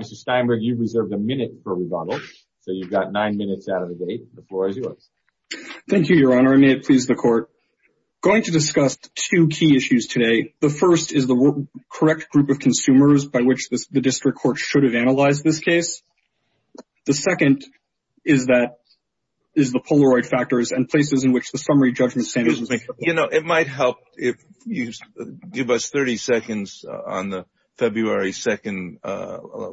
Mr. Steinberg, you've reserved a minute for rebuttal, so you've got 9 minutes out of the date. The floor is yours. Thank you, Your Honor. May it please the Court. Going to discuss two key issues today. The first is the correct group of consumers by which the district court should have analyzed this case. The second is the Polaroid factors and places in which the summary judgment standards were made. You know, it might help if you give us 30 seconds on the February 2nd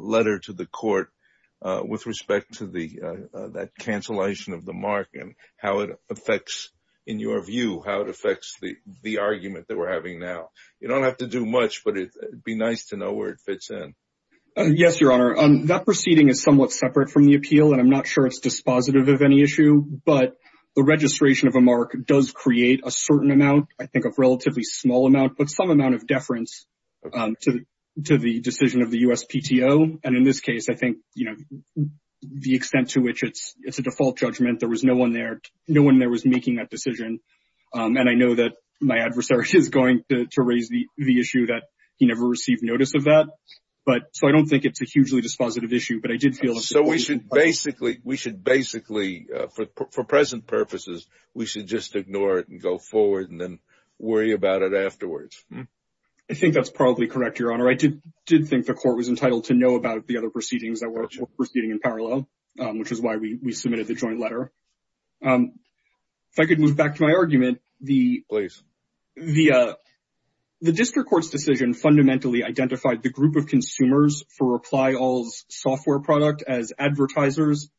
letter to the Court of Appeals to see how it affects the argument that we're having now. You don't have to do much, but it would be nice to know where it fits in. Yes, Your Honor. That proceeding is somewhat separate from the appeal, and I'm not sure it's dispositive of any issue. But the registration of a mark does create a certain amount, I think a relatively small amount, but some amount of deference to the decision of the USPTO. And in this case, I think, you know, the extent to which it's a default judgment, there was no one there. No one there was making that decision. And I know that my adversary is going to raise the issue that he never received notice of that. But, so I don't think it's a hugely dispositive issue, but I did feel... So we should basically, we should basically, for present purposes, we should just ignore it and go forward and then worry about it afterwards. I think that's probably correct, Your Honor. I did think the Court was entitled to know about the other proceedings that were proceeding in parallel, which is why we submitted the joint letter. If I could move back to my argument, the... Please. The district court's decision fundamentally identified the group of consumers for Reply All's software product as advertisers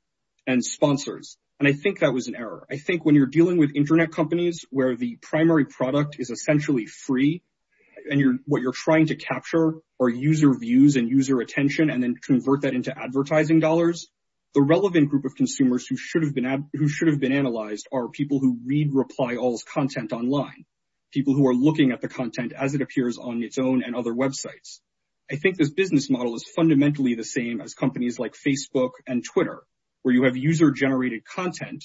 and sponsors. And I think that was an error. I think when you're dealing with internet companies where the primary product is essentially free and what you're trying to capture are user views and user attention, and then convert that into advertising dollars, the relevant group of consumers who should have been analyzed are people who read Reply All's content online, people who are looking at the content as it appears on its own and other websites. I think this business model is fundamentally the same as companies like Facebook and Twitter, where you have user-generated content,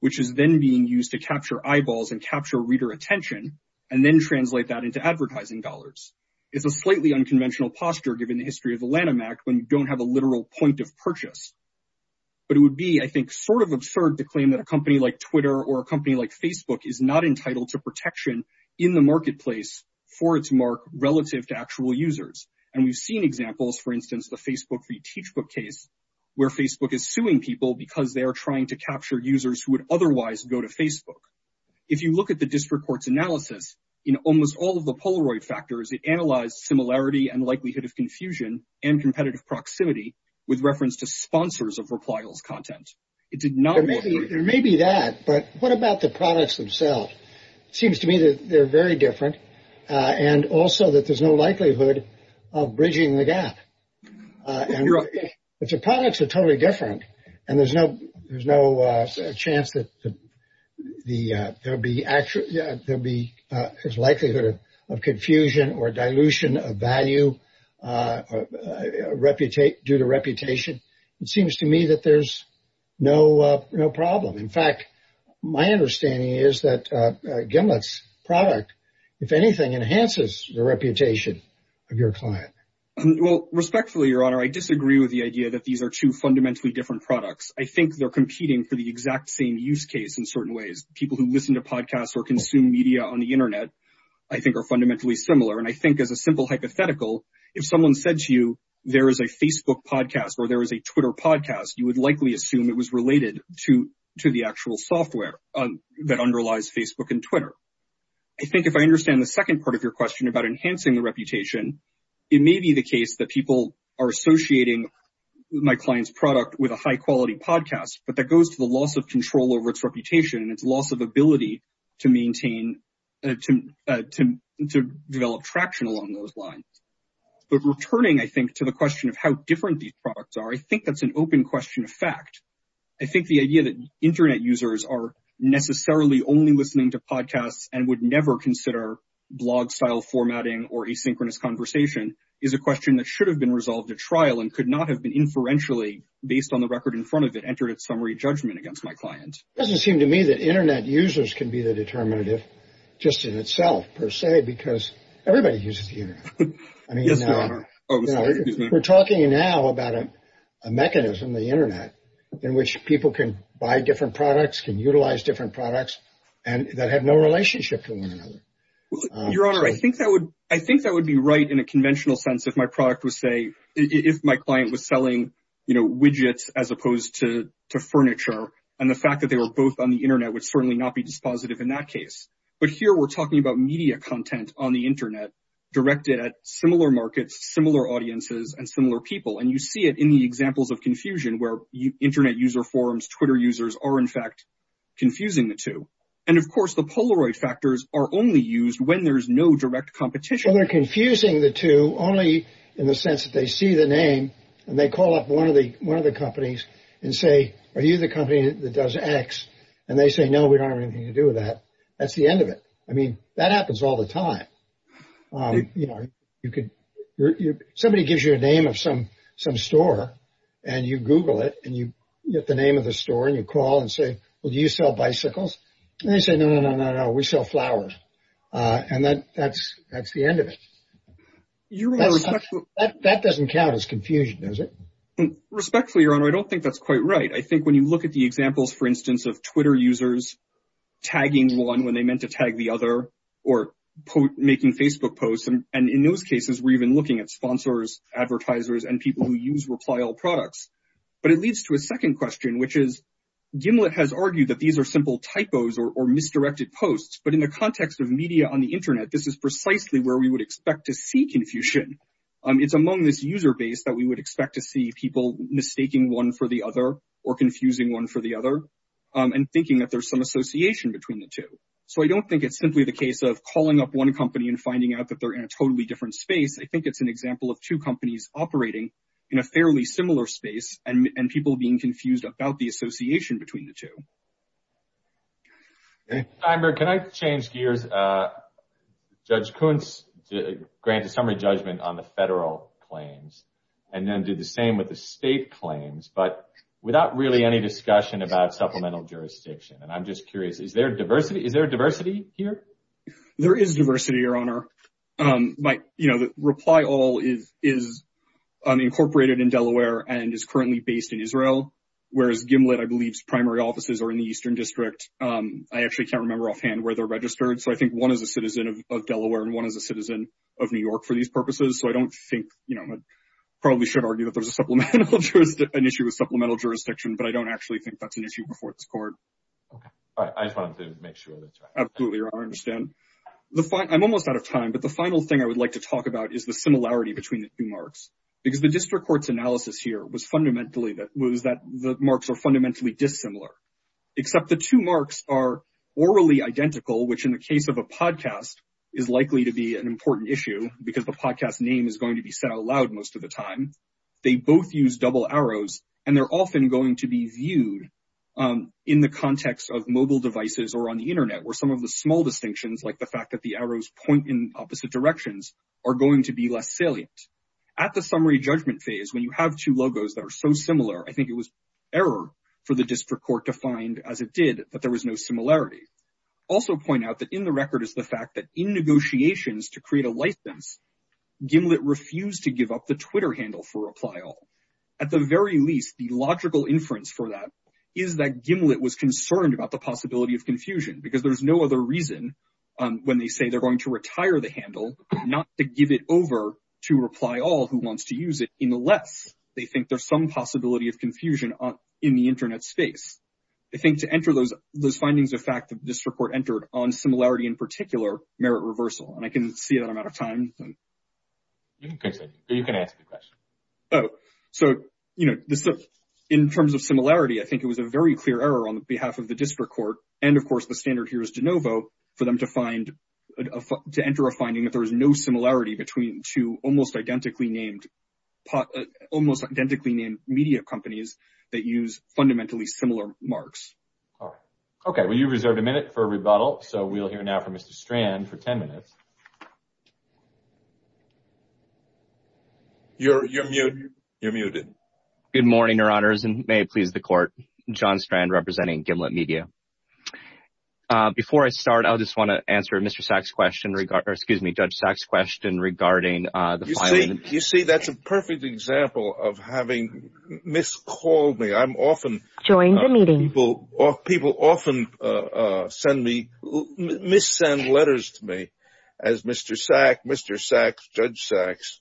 which is then being used to capture eyeballs and capture reader attention, and then translate that into advertising dollars. It's a slightly unconventional posture, given the history of the Lanham Act, when you don't have a literal point of purchase. But it would be, I think, sort of absurd to claim that a company like Twitter or a company like Facebook is not entitled to protection in the marketplace for its mark relative to actual users. And we've seen examples, for instance, the Facebook v. Teachbook case, where Facebook is suing people because they are trying to capture users who would otherwise go to Facebook. If you look at the district court's analysis, in almost all of the Polaroid factors, it with reference to sponsors of Reply All's content. It did not work very well. There may be that, but what about the products themselves? It seems to me that they're very different, and also that there's no likelihood of bridging the gap. You're right. But the products are totally different, and there's no chance that there'll be likelihood of confusion or dilution of value due to reputation. It seems to me that there's no problem. In fact, my understanding is that Gimlet's product, if anything, enhances the reputation of your client. Well, respectfully, Your Honor, I disagree with the idea that these are two fundamentally different products. I think they're competing for the exact same use case in certain ways. People who listen to podcasts or consume media on the Internet, I think, are fundamentally similar. And I think, as a simple hypothetical, if someone said to you, there is a Facebook podcast or there is a Twitter podcast, you would likely assume it was related to the actual software that underlies Facebook and Twitter. I think if I understand the second part of your question about enhancing the reputation, it may be the case that people are associating my client's product with a high-quality podcast, but that goes to the loss of control over its reputation and its loss of ability to maintain and to develop traction along those lines. But returning, I think, to the question of how different these products are, I think that's an open question of fact. I think the idea that Internet users are necessarily only listening to podcasts and would never consider blog-style formatting or asynchronous conversation is a question that should have been resolved at trial and could not have been inferentially, based on the record in summary, judgment against my client. It doesn't seem to me that Internet users can be the determinative just in itself, per se, because everybody uses the Internet. Yes, Your Honor. Oh, I'm sorry. Excuse me. We're talking now about a mechanism, the Internet, in which people can buy different products, can utilize different products, and that have no relationship to one another. Your Honor, I think that would be right in a conventional sense if my product was, say, if my client was selling widgets as opposed to furniture, and the fact that they were both on the Internet would certainly not be dispositive in that case. But here we're talking about media content on the Internet directed at similar markets, similar audiences, and similar people, and you see it in the examples of confusion where Internet user forums, Twitter users, are, in fact, confusing the two. And of course, the Polaroid factors are only used when there's no direct competition. So they're confusing the two only in the sense that they see the name, and they call up one of the companies and say, are you the company that does X? And they say, no, we don't have anything to do with that. That's the end of it. I mean, that happens all the time. Somebody gives you a name of some store, and you Google it, and you get the name of the store, and you call and say, well, do you sell bicycles? And they say, no, no, no, no, no, we sell flowers. And that's the end of it. That doesn't count as confusion, does it? Respectfully, Your Honor, I don't think that's quite right. I think when you look at the examples, for instance, of Twitter users tagging one when they meant to tag the other, or making Facebook posts, and in those cases, we're even looking at sponsors, advertisers, and people who use Reply All products. But it leads to a second question, which is, Gimlet has argued that these are simple typos or misdirected posts. But in the context of media on the internet, this is precisely where we would expect to see confusion. It's among this user base that we would expect to see people mistaking one for the other, or confusing one for the other, and thinking that there's some association between the two. So I don't think it's simply the case of calling up one company and finding out that they're in a totally different space. I think it's an example of two companies operating in a fairly similar space, and people being confused about the association between the two. Timer, can I change gears? Judge Kuntz granted summary judgment on the federal claims, and then did the same with the state claims, but without really any discussion about supplemental jurisdiction. And I'm just curious, is there diversity here? There is diversity, Your Honor. Reply All is incorporated in Delaware and is currently based in Israel, whereas Gimlet, I believe, primary offices are in the Eastern District. I actually can't remember offhand where they're registered. So I think one is a citizen of Delaware, and one is a citizen of New York for these purposes. So I don't think, you know, I probably should argue that there's an issue with supplemental jurisdiction, but I don't actually think that's an issue before this court. All right. I just wanted to make sure that you had that. Absolutely, Your Honor. I understand. I'm almost out of time, but the final thing I would like to talk about is the similarity between the two marks. Because the district court's analysis here was fundamentally that the marks are fundamentally dissimilar, except the two marks are orally identical, which in the case of a podcast is likely to be an important issue because the podcast name is going to be said aloud most of the time. They both use double arrows, and they're often going to be viewed in the context of mobile devices or on the internet, where some of the small distinctions, like the fact that the arrows point in opposite directions, are going to be less salient. At the summary judgment phase, when you have two logos that are so similar, I think it was error for the district court to find, as it did, that there was no similarity. Also point out that in the record is the fact that in negotiations to create a license, Gimlet refused to give up the Twitter handle for reply all. At the very least, the logical inference for that is that Gimlet was concerned about the possibility of confusion, because there's no other reason when they say they're going to retire the handle, not to give it over to reply all who wants to use it, unless they think there's some possibility of confusion in the internet space. I think to enter those findings of fact that this report entered on similarity in particular merit reversal, and I can see that I'm out of time. You can answer the question. So, you know, in terms of similarity, I think it was a very clear error on behalf of the district court to enter a finding that there is no similarity between two almost identically named media companies that use fundamentally similar marks. Okay, well, you reserved a minute for rebuttal. So we'll hear now from Mr. Strand for 10 minutes. You're muted. Good morning, Your Honors, and may it please the court. John Strand representing Gimlet Media. Before I start, I just want to answer Mr. Sacks question regarding, excuse me, Judge Sacks question regarding the finding. You see, that's a perfect example of having miscalled me. I'm often, people often send me, missend letters to me as Mr. Sack, Mr. Sacks, Judge Sacks,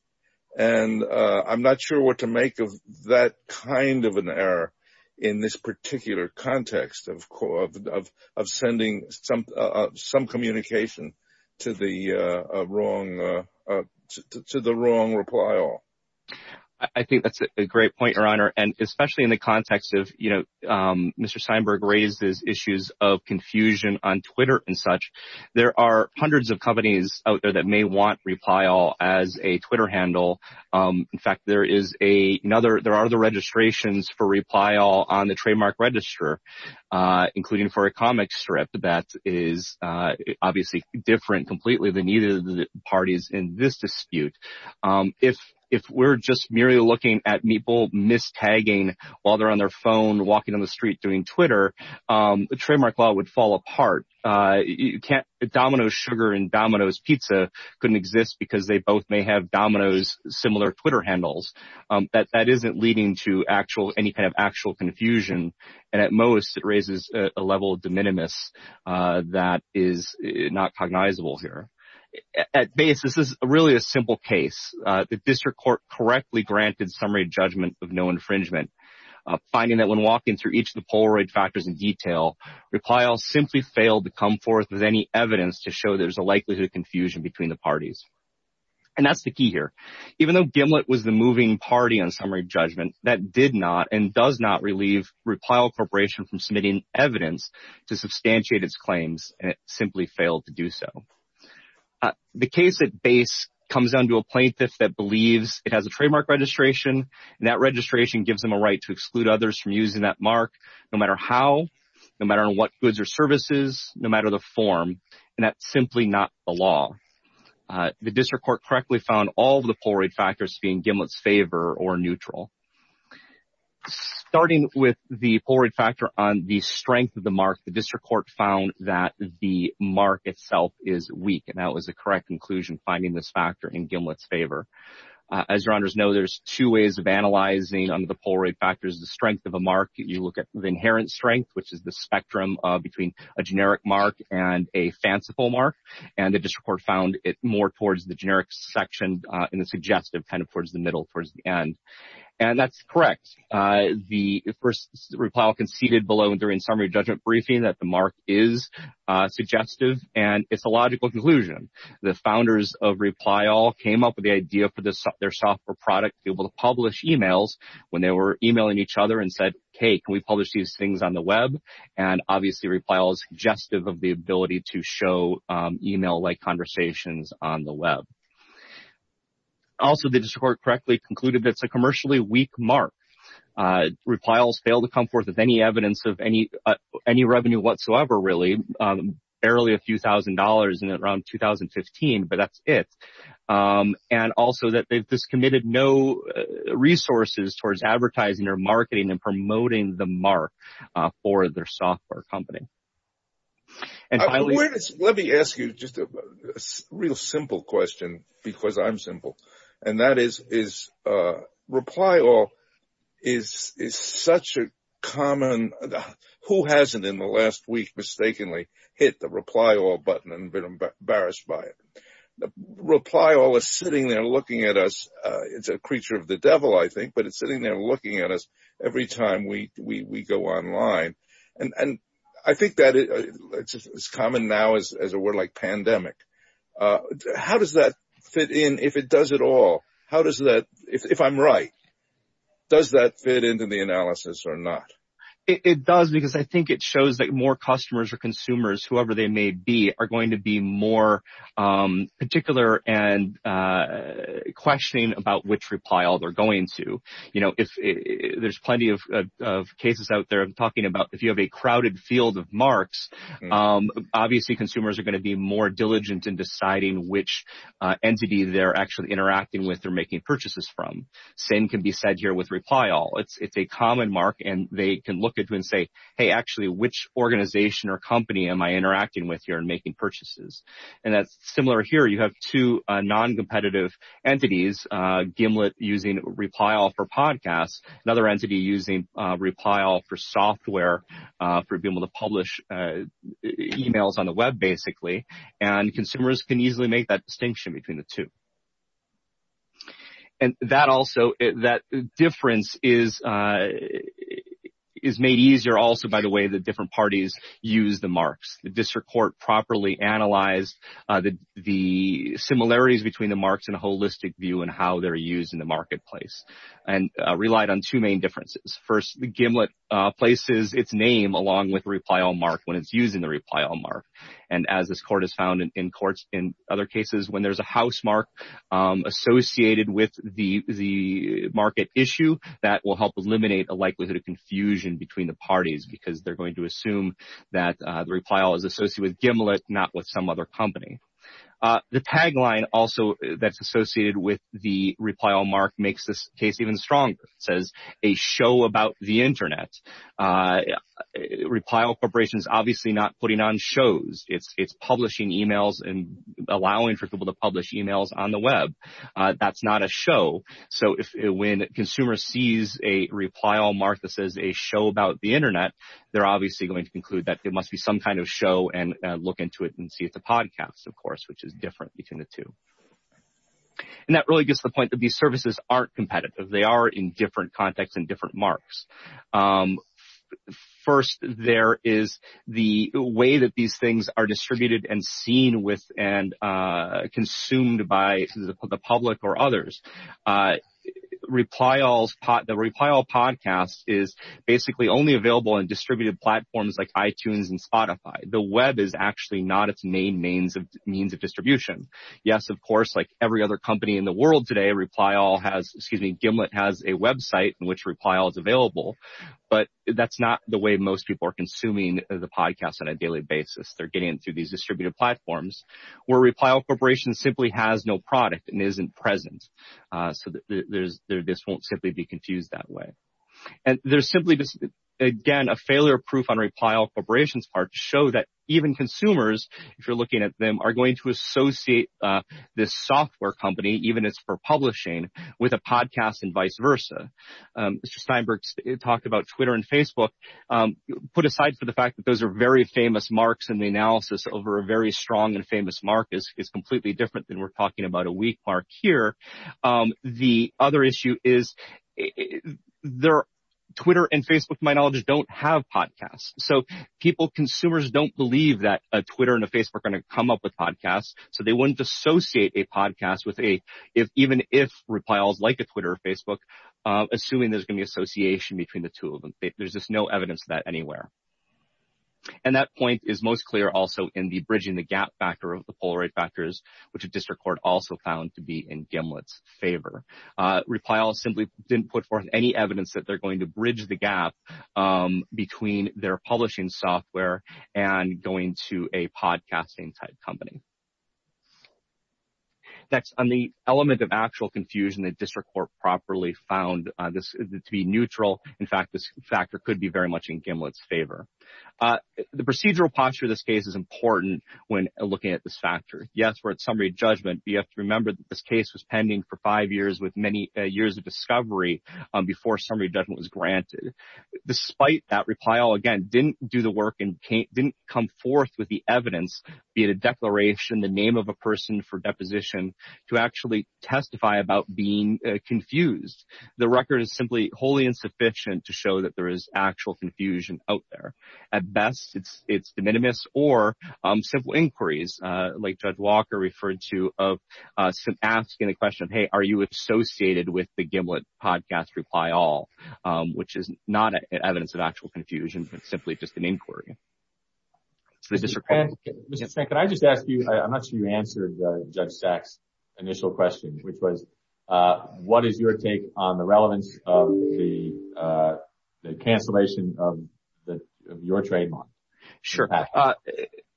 and I'm not sure what to make of that kind of an error in this particular context of sending some communication to the wrong reply all. I think that's a great point, Your Honor, and especially in the context of, you know, Mr. Steinberg raises issues of confusion on Twitter and such. There are hundreds of companies out there that may want reply all as a Twitter handle. In fact, there is another, there are other registrations for reply all on the trademark register, including for a comic strip that is obviously different completely than either of the parties in this dispute. If we're just merely looking at people mistagging while they're on their phone, walking on the street, doing Twitter, the trademark law would fall apart. You can't, Domino's sugar and Domino's pizza couldn't exist because they both may have Domino's similar Twitter handles. That isn't leading to actual, any kind of actual confusion, and at most it raises a level of de minimis that is not cognizable here. At base, this is really a simple case. The district court correctly granted summary judgment of no infringement, finding that when evidence to show there's a likelihood of confusion between the parties. And that's the key here. Even though Gimlet was the moving party on summary judgment, that did not and does not relieve reply all corporation from submitting evidence to substantiate its claims, and it simply failed to do so. The case at base comes down to a plaintiff that believes it has a trademark registration, and that registration gives them a right to exclude others from using that mark, no matter how, no matter what goods or services, no matter the form. And that's simply not the law. The district court correctly found all the Polaroid factors being Gimlet's favor or neutral. Starting with the Polaroid factor on the strength of the mark, the district court found that the mark itself is weak, and that was the correct conclusion, finding this factor in Gimlet's favor. As your honors know, there's two ways of analyzing under the Polaroid factors. The strength of a mark, you look at the inherent strength, which is the spectrum between a generic mark and a fanciful mark, and the district court found it more towards the generic section in the suggestive, kind of towards the middle, towards the end. And that's correct. The first reply all conceded below during summary judgment briefing that the mark is suggestive, and it's a logical conclusion. The founders of reply all came up with the idea for their software product to be able to publish emails when they were emailing each other and said, hey, can we publish these things on the web? And obviously, reply all is suggestive of the ability to show email-like conversations on the web. Also, the district court correctly concluded that it's a commercially weak mark. Reply all failed to come forth with any evidence of any revenue whatsoever, really, barely a few thousand dollars in around 2015, but that's it. And also, that they've just committed no resources towards advertising or marketing and promoting the mark for their software company. Let me ask you just a real simple question, because I'm simple. And that is, reply all is such a common, who hasn't in the last week mistakenly hit the reply all button and been embarrassed by it? Reply all is sitting there looking at us, it's a creature of the devil, I think, but it's sitting there looking at us every time we go online. And I think that it's common now as a word like pandemic. How does that fit in, if it does at all? How does that, if I'm right, does that fit into the analysis or not? It does, because I think it shows that more customers or consumers, whoever they may be, are going to be more particular and questioning about which reply all they're going to. There's plenty of cases out there. I'm talking about if you have a crowded field of marks, obviously, consumers are going to be more diligent in deciding which entity they're actually interacting with or making purchases from. Same can be said here with reply all. It's a common mark, and they can look at you and say, hey, actually, which organization or company am I interacting with here and making purchases? And that's similar here. You have two non-competitive entities, Gimlet using reply all for podcasts, another entity using reply all for software for being able to publish emails on the web, basically, and consumers can easily make that distinction between the two. And that also, that difference is made easier also by the way the different parties use the marks. The district court properly analyzed the similarities between the marks and holistic view and how they're used in the marketplace and relied on two main differences. First, Gimlet places its name along with reply all mark when it's using the reply all mark. And as this court has found in courts, in other cases, when there's a housemark associated with the market issue, that will help eliminate a likelihood of confusion between the parties because they're going to assume that the reply all is associated with Gimlet, not with some other company. The tagline also that's associated with the reply all mark makes this case even stronger. It says, a show about the internet. A reply all corporation is obviously not putting on shows. It's publishing emails and allowing for people to publish emails on the web. That's not a show. So, when a consumer sees a reply all mark that says a show about the internet, they're obviously going to conclude that there must be some kind of show and look into it and see if it's a podcast, of course, which is different between the two. And that really gets to the point that these services aren't competitive. They are in different contexts and different marks. First, there is the way that these things are distributed and seen with and consumed by the public or others. The reply all podcast is basically only available in distributed platforms like iTunes and Spotify. The web is actually not its main means of distribution. Yes, of course, like every other company in the world today, reply all has, excuse me, Gimlet has a website in which reply all is available. But that's not the way most people are consuming the podcast on a daily basis. They're getting into these distributed platforms where reply all corporation simply has no product and isn't present. So, this won't simply be confused that way. And there's simply, again, a failure proof on reply all corporation's part to show that even consumers, if you're looking at them, are going to associate this software company, even if it's for publishing, with a podcast and vice versa. Mr. Steinberg talked about Twitter and Facebook. Put aside for the fact that those are very famous marks and the analysis over a very strong and famous mark is completely different than we're talking about a weak mark here. The other issue is Twitter and Facebook, to my knowledge, don't have podcasts. So, people, consumers don't believe that a Twitter and a Facebook are going to come up with podcasts. So, they wouldn't associate a podcast with a, even if reply all is like a Twitter or Facebook, assuming there's going to be association between the two of them. There's just no evidence of that anywhere. And that point is most clear also in the bridging the gap factor of the Polaroid factors, which a district court also found to be in Gimlet's favor. Reply all simply didn't put forth any evidence that they're going to bridge the gap between their publishing software and going to a podcasting type company. Next, on the element of actual confusion, the district court properly found this to be neutral. In fact, this factor could be very much in Gimlet's favor. The procedural posture of this case is important when looking at this factor. Yes, we're at summary judgment, but you have to remember that this case was pending for five years with many years of discovery before summary judgment was granted. Despite that, reply all, again, didn't do the work and didn't come forth with the evidence, be it a declaration, the name of a person for deposition, to actually testify about being confused. The record is simply wholly insufficient to show that there is actual confusion out there. At best, it's de minimis or simple inquiries like Judge Walker referred to of asking the question, hey, are you associated with the Gimlet podcast reply all, which is not evidence of actual confusion, but simply just an inquiry. Mr. Stank, can I just ask you, I'm not sure you answered Judge Stack's initial question, which was what is your take on the relevance of the cancellation of your trademark? Sure.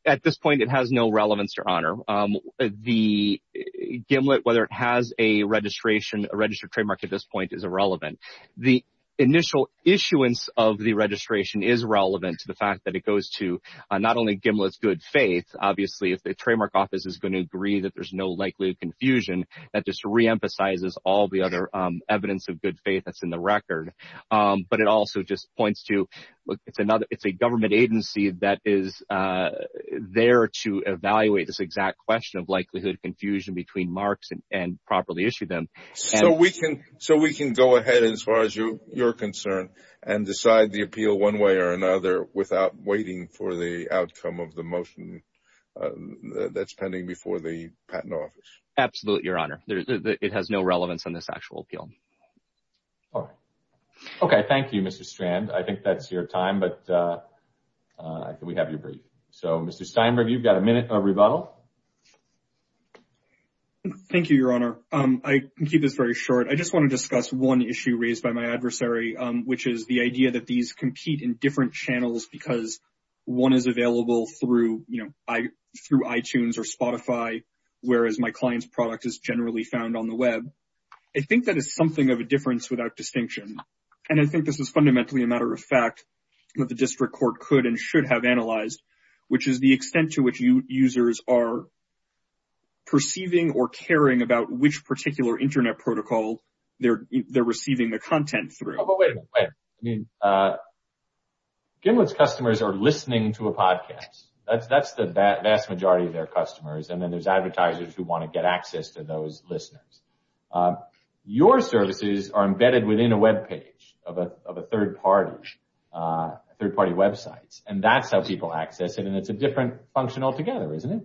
At this point, it has no relevance or honor. The Gimlet, whether it has a registration, a registered trademark at this point is irrelevant. The initial issuance of the registration is relevant to the fact that it goes to not only Gimlet's good faith. Obviously, if the trademark office is going to agree that there's no likelihood of confusion, that just reemphasizes all the other evidence of good faith that's in the record. But it also just points to it's a government agency that is there to evaluate this exact question of likelihood of confusion between marks and properly issue them. So we can go ahead as far as you're concerned and decide the appeal one way or another without waiting for the outcome of the motion that's pending before the patent office? Absolutely, Your Honor. It has no relevance in this actual appeal. All right. Okay. Thank you, Mr. Strand. I think that's your time, but we have your brief. So, Mr. Steinberg, you've got a minute of rebuttal. Thank you, Your Honor. I can keep this very short. I just want to discuss one issue raised by my adversary, which is the idea that these compete in different channels because one is available through iTunes or Spotify, whereas my client's product is generally found on the web. I think that is something of a difference without distinction. And I think this is fundamentally a matter of fact that the district court could and should have analyzed, which is the extent to which you users are perceiving or caring about which particular internet protocol they're receiving the content through. Oh, but wait a minute. Wait. I mean, Gimlet's customers are listening to a podcast. That's the vast majority of their customers. And then there's advertisers who want to get access to those listeners. Your services are embedded within a web page of a third-party website, and that's how people access it. And it's a different function altogether, isn't it?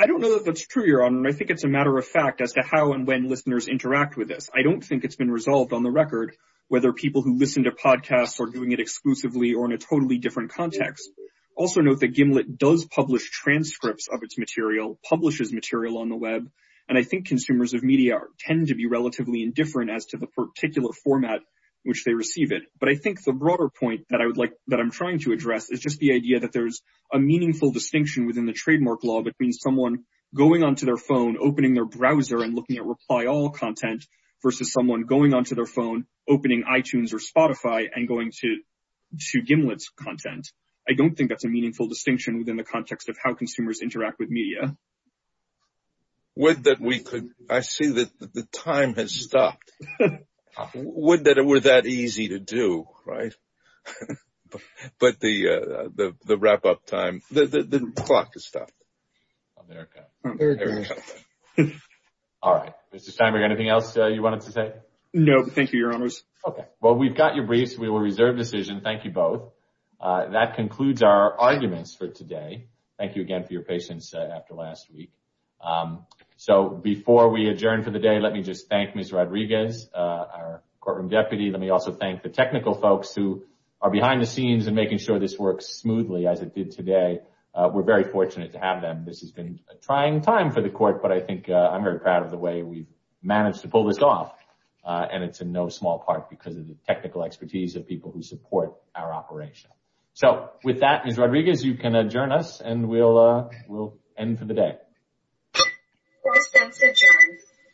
I don't know that that's true, Your Honor. I think it's a matter of fact as to how and when listeners interact with this. I don't think it's been resolved on the record whether people who listen to podcasts are doing it exclusively or in a totally different context. Also note that Gimlet does publish transcripts of its material, publishes material on the web, and I think consumers of media tend to be relatively indifferent as to the particular format in which they receive it. But I think the broader point that I'm trying to address is just the idea that there's a opening their browser and looking at reply all content versus someone going onto their phone, opening iTunes or Spotify, and going to Gimlet's content. I don't think that's a meaningful distinction within the context of how consumers interact with media. I see that the time has stopped. Wouldn't that have been that easy to do, right? But the wrap-up time, the clock has stopped. America. All right. Mr. Steinberg, anything else you wanted to say? No. Thank you, Your Honors. Okay. Well, we've got your briefs. We will reserve decision. Thank you both. That concludes our arguments for today. Thank you again for your patience after last week. So before we adjourn for the day, let me just thank Ms. Rodriguez, our courtroom deputy. Let me also thank the technical folks who are behind the scenes and making sure this works smoothly as it did today. We're very fortunate to have them. This has been a trying time for the court, but I think I'm very proud of the way we've managed to pull this off. And it's in no small part because of the technical expertise of people who support our operation. So with that, Ms. Rodriguez, you can adjourn us and we'll end for the day. Court is adjourned.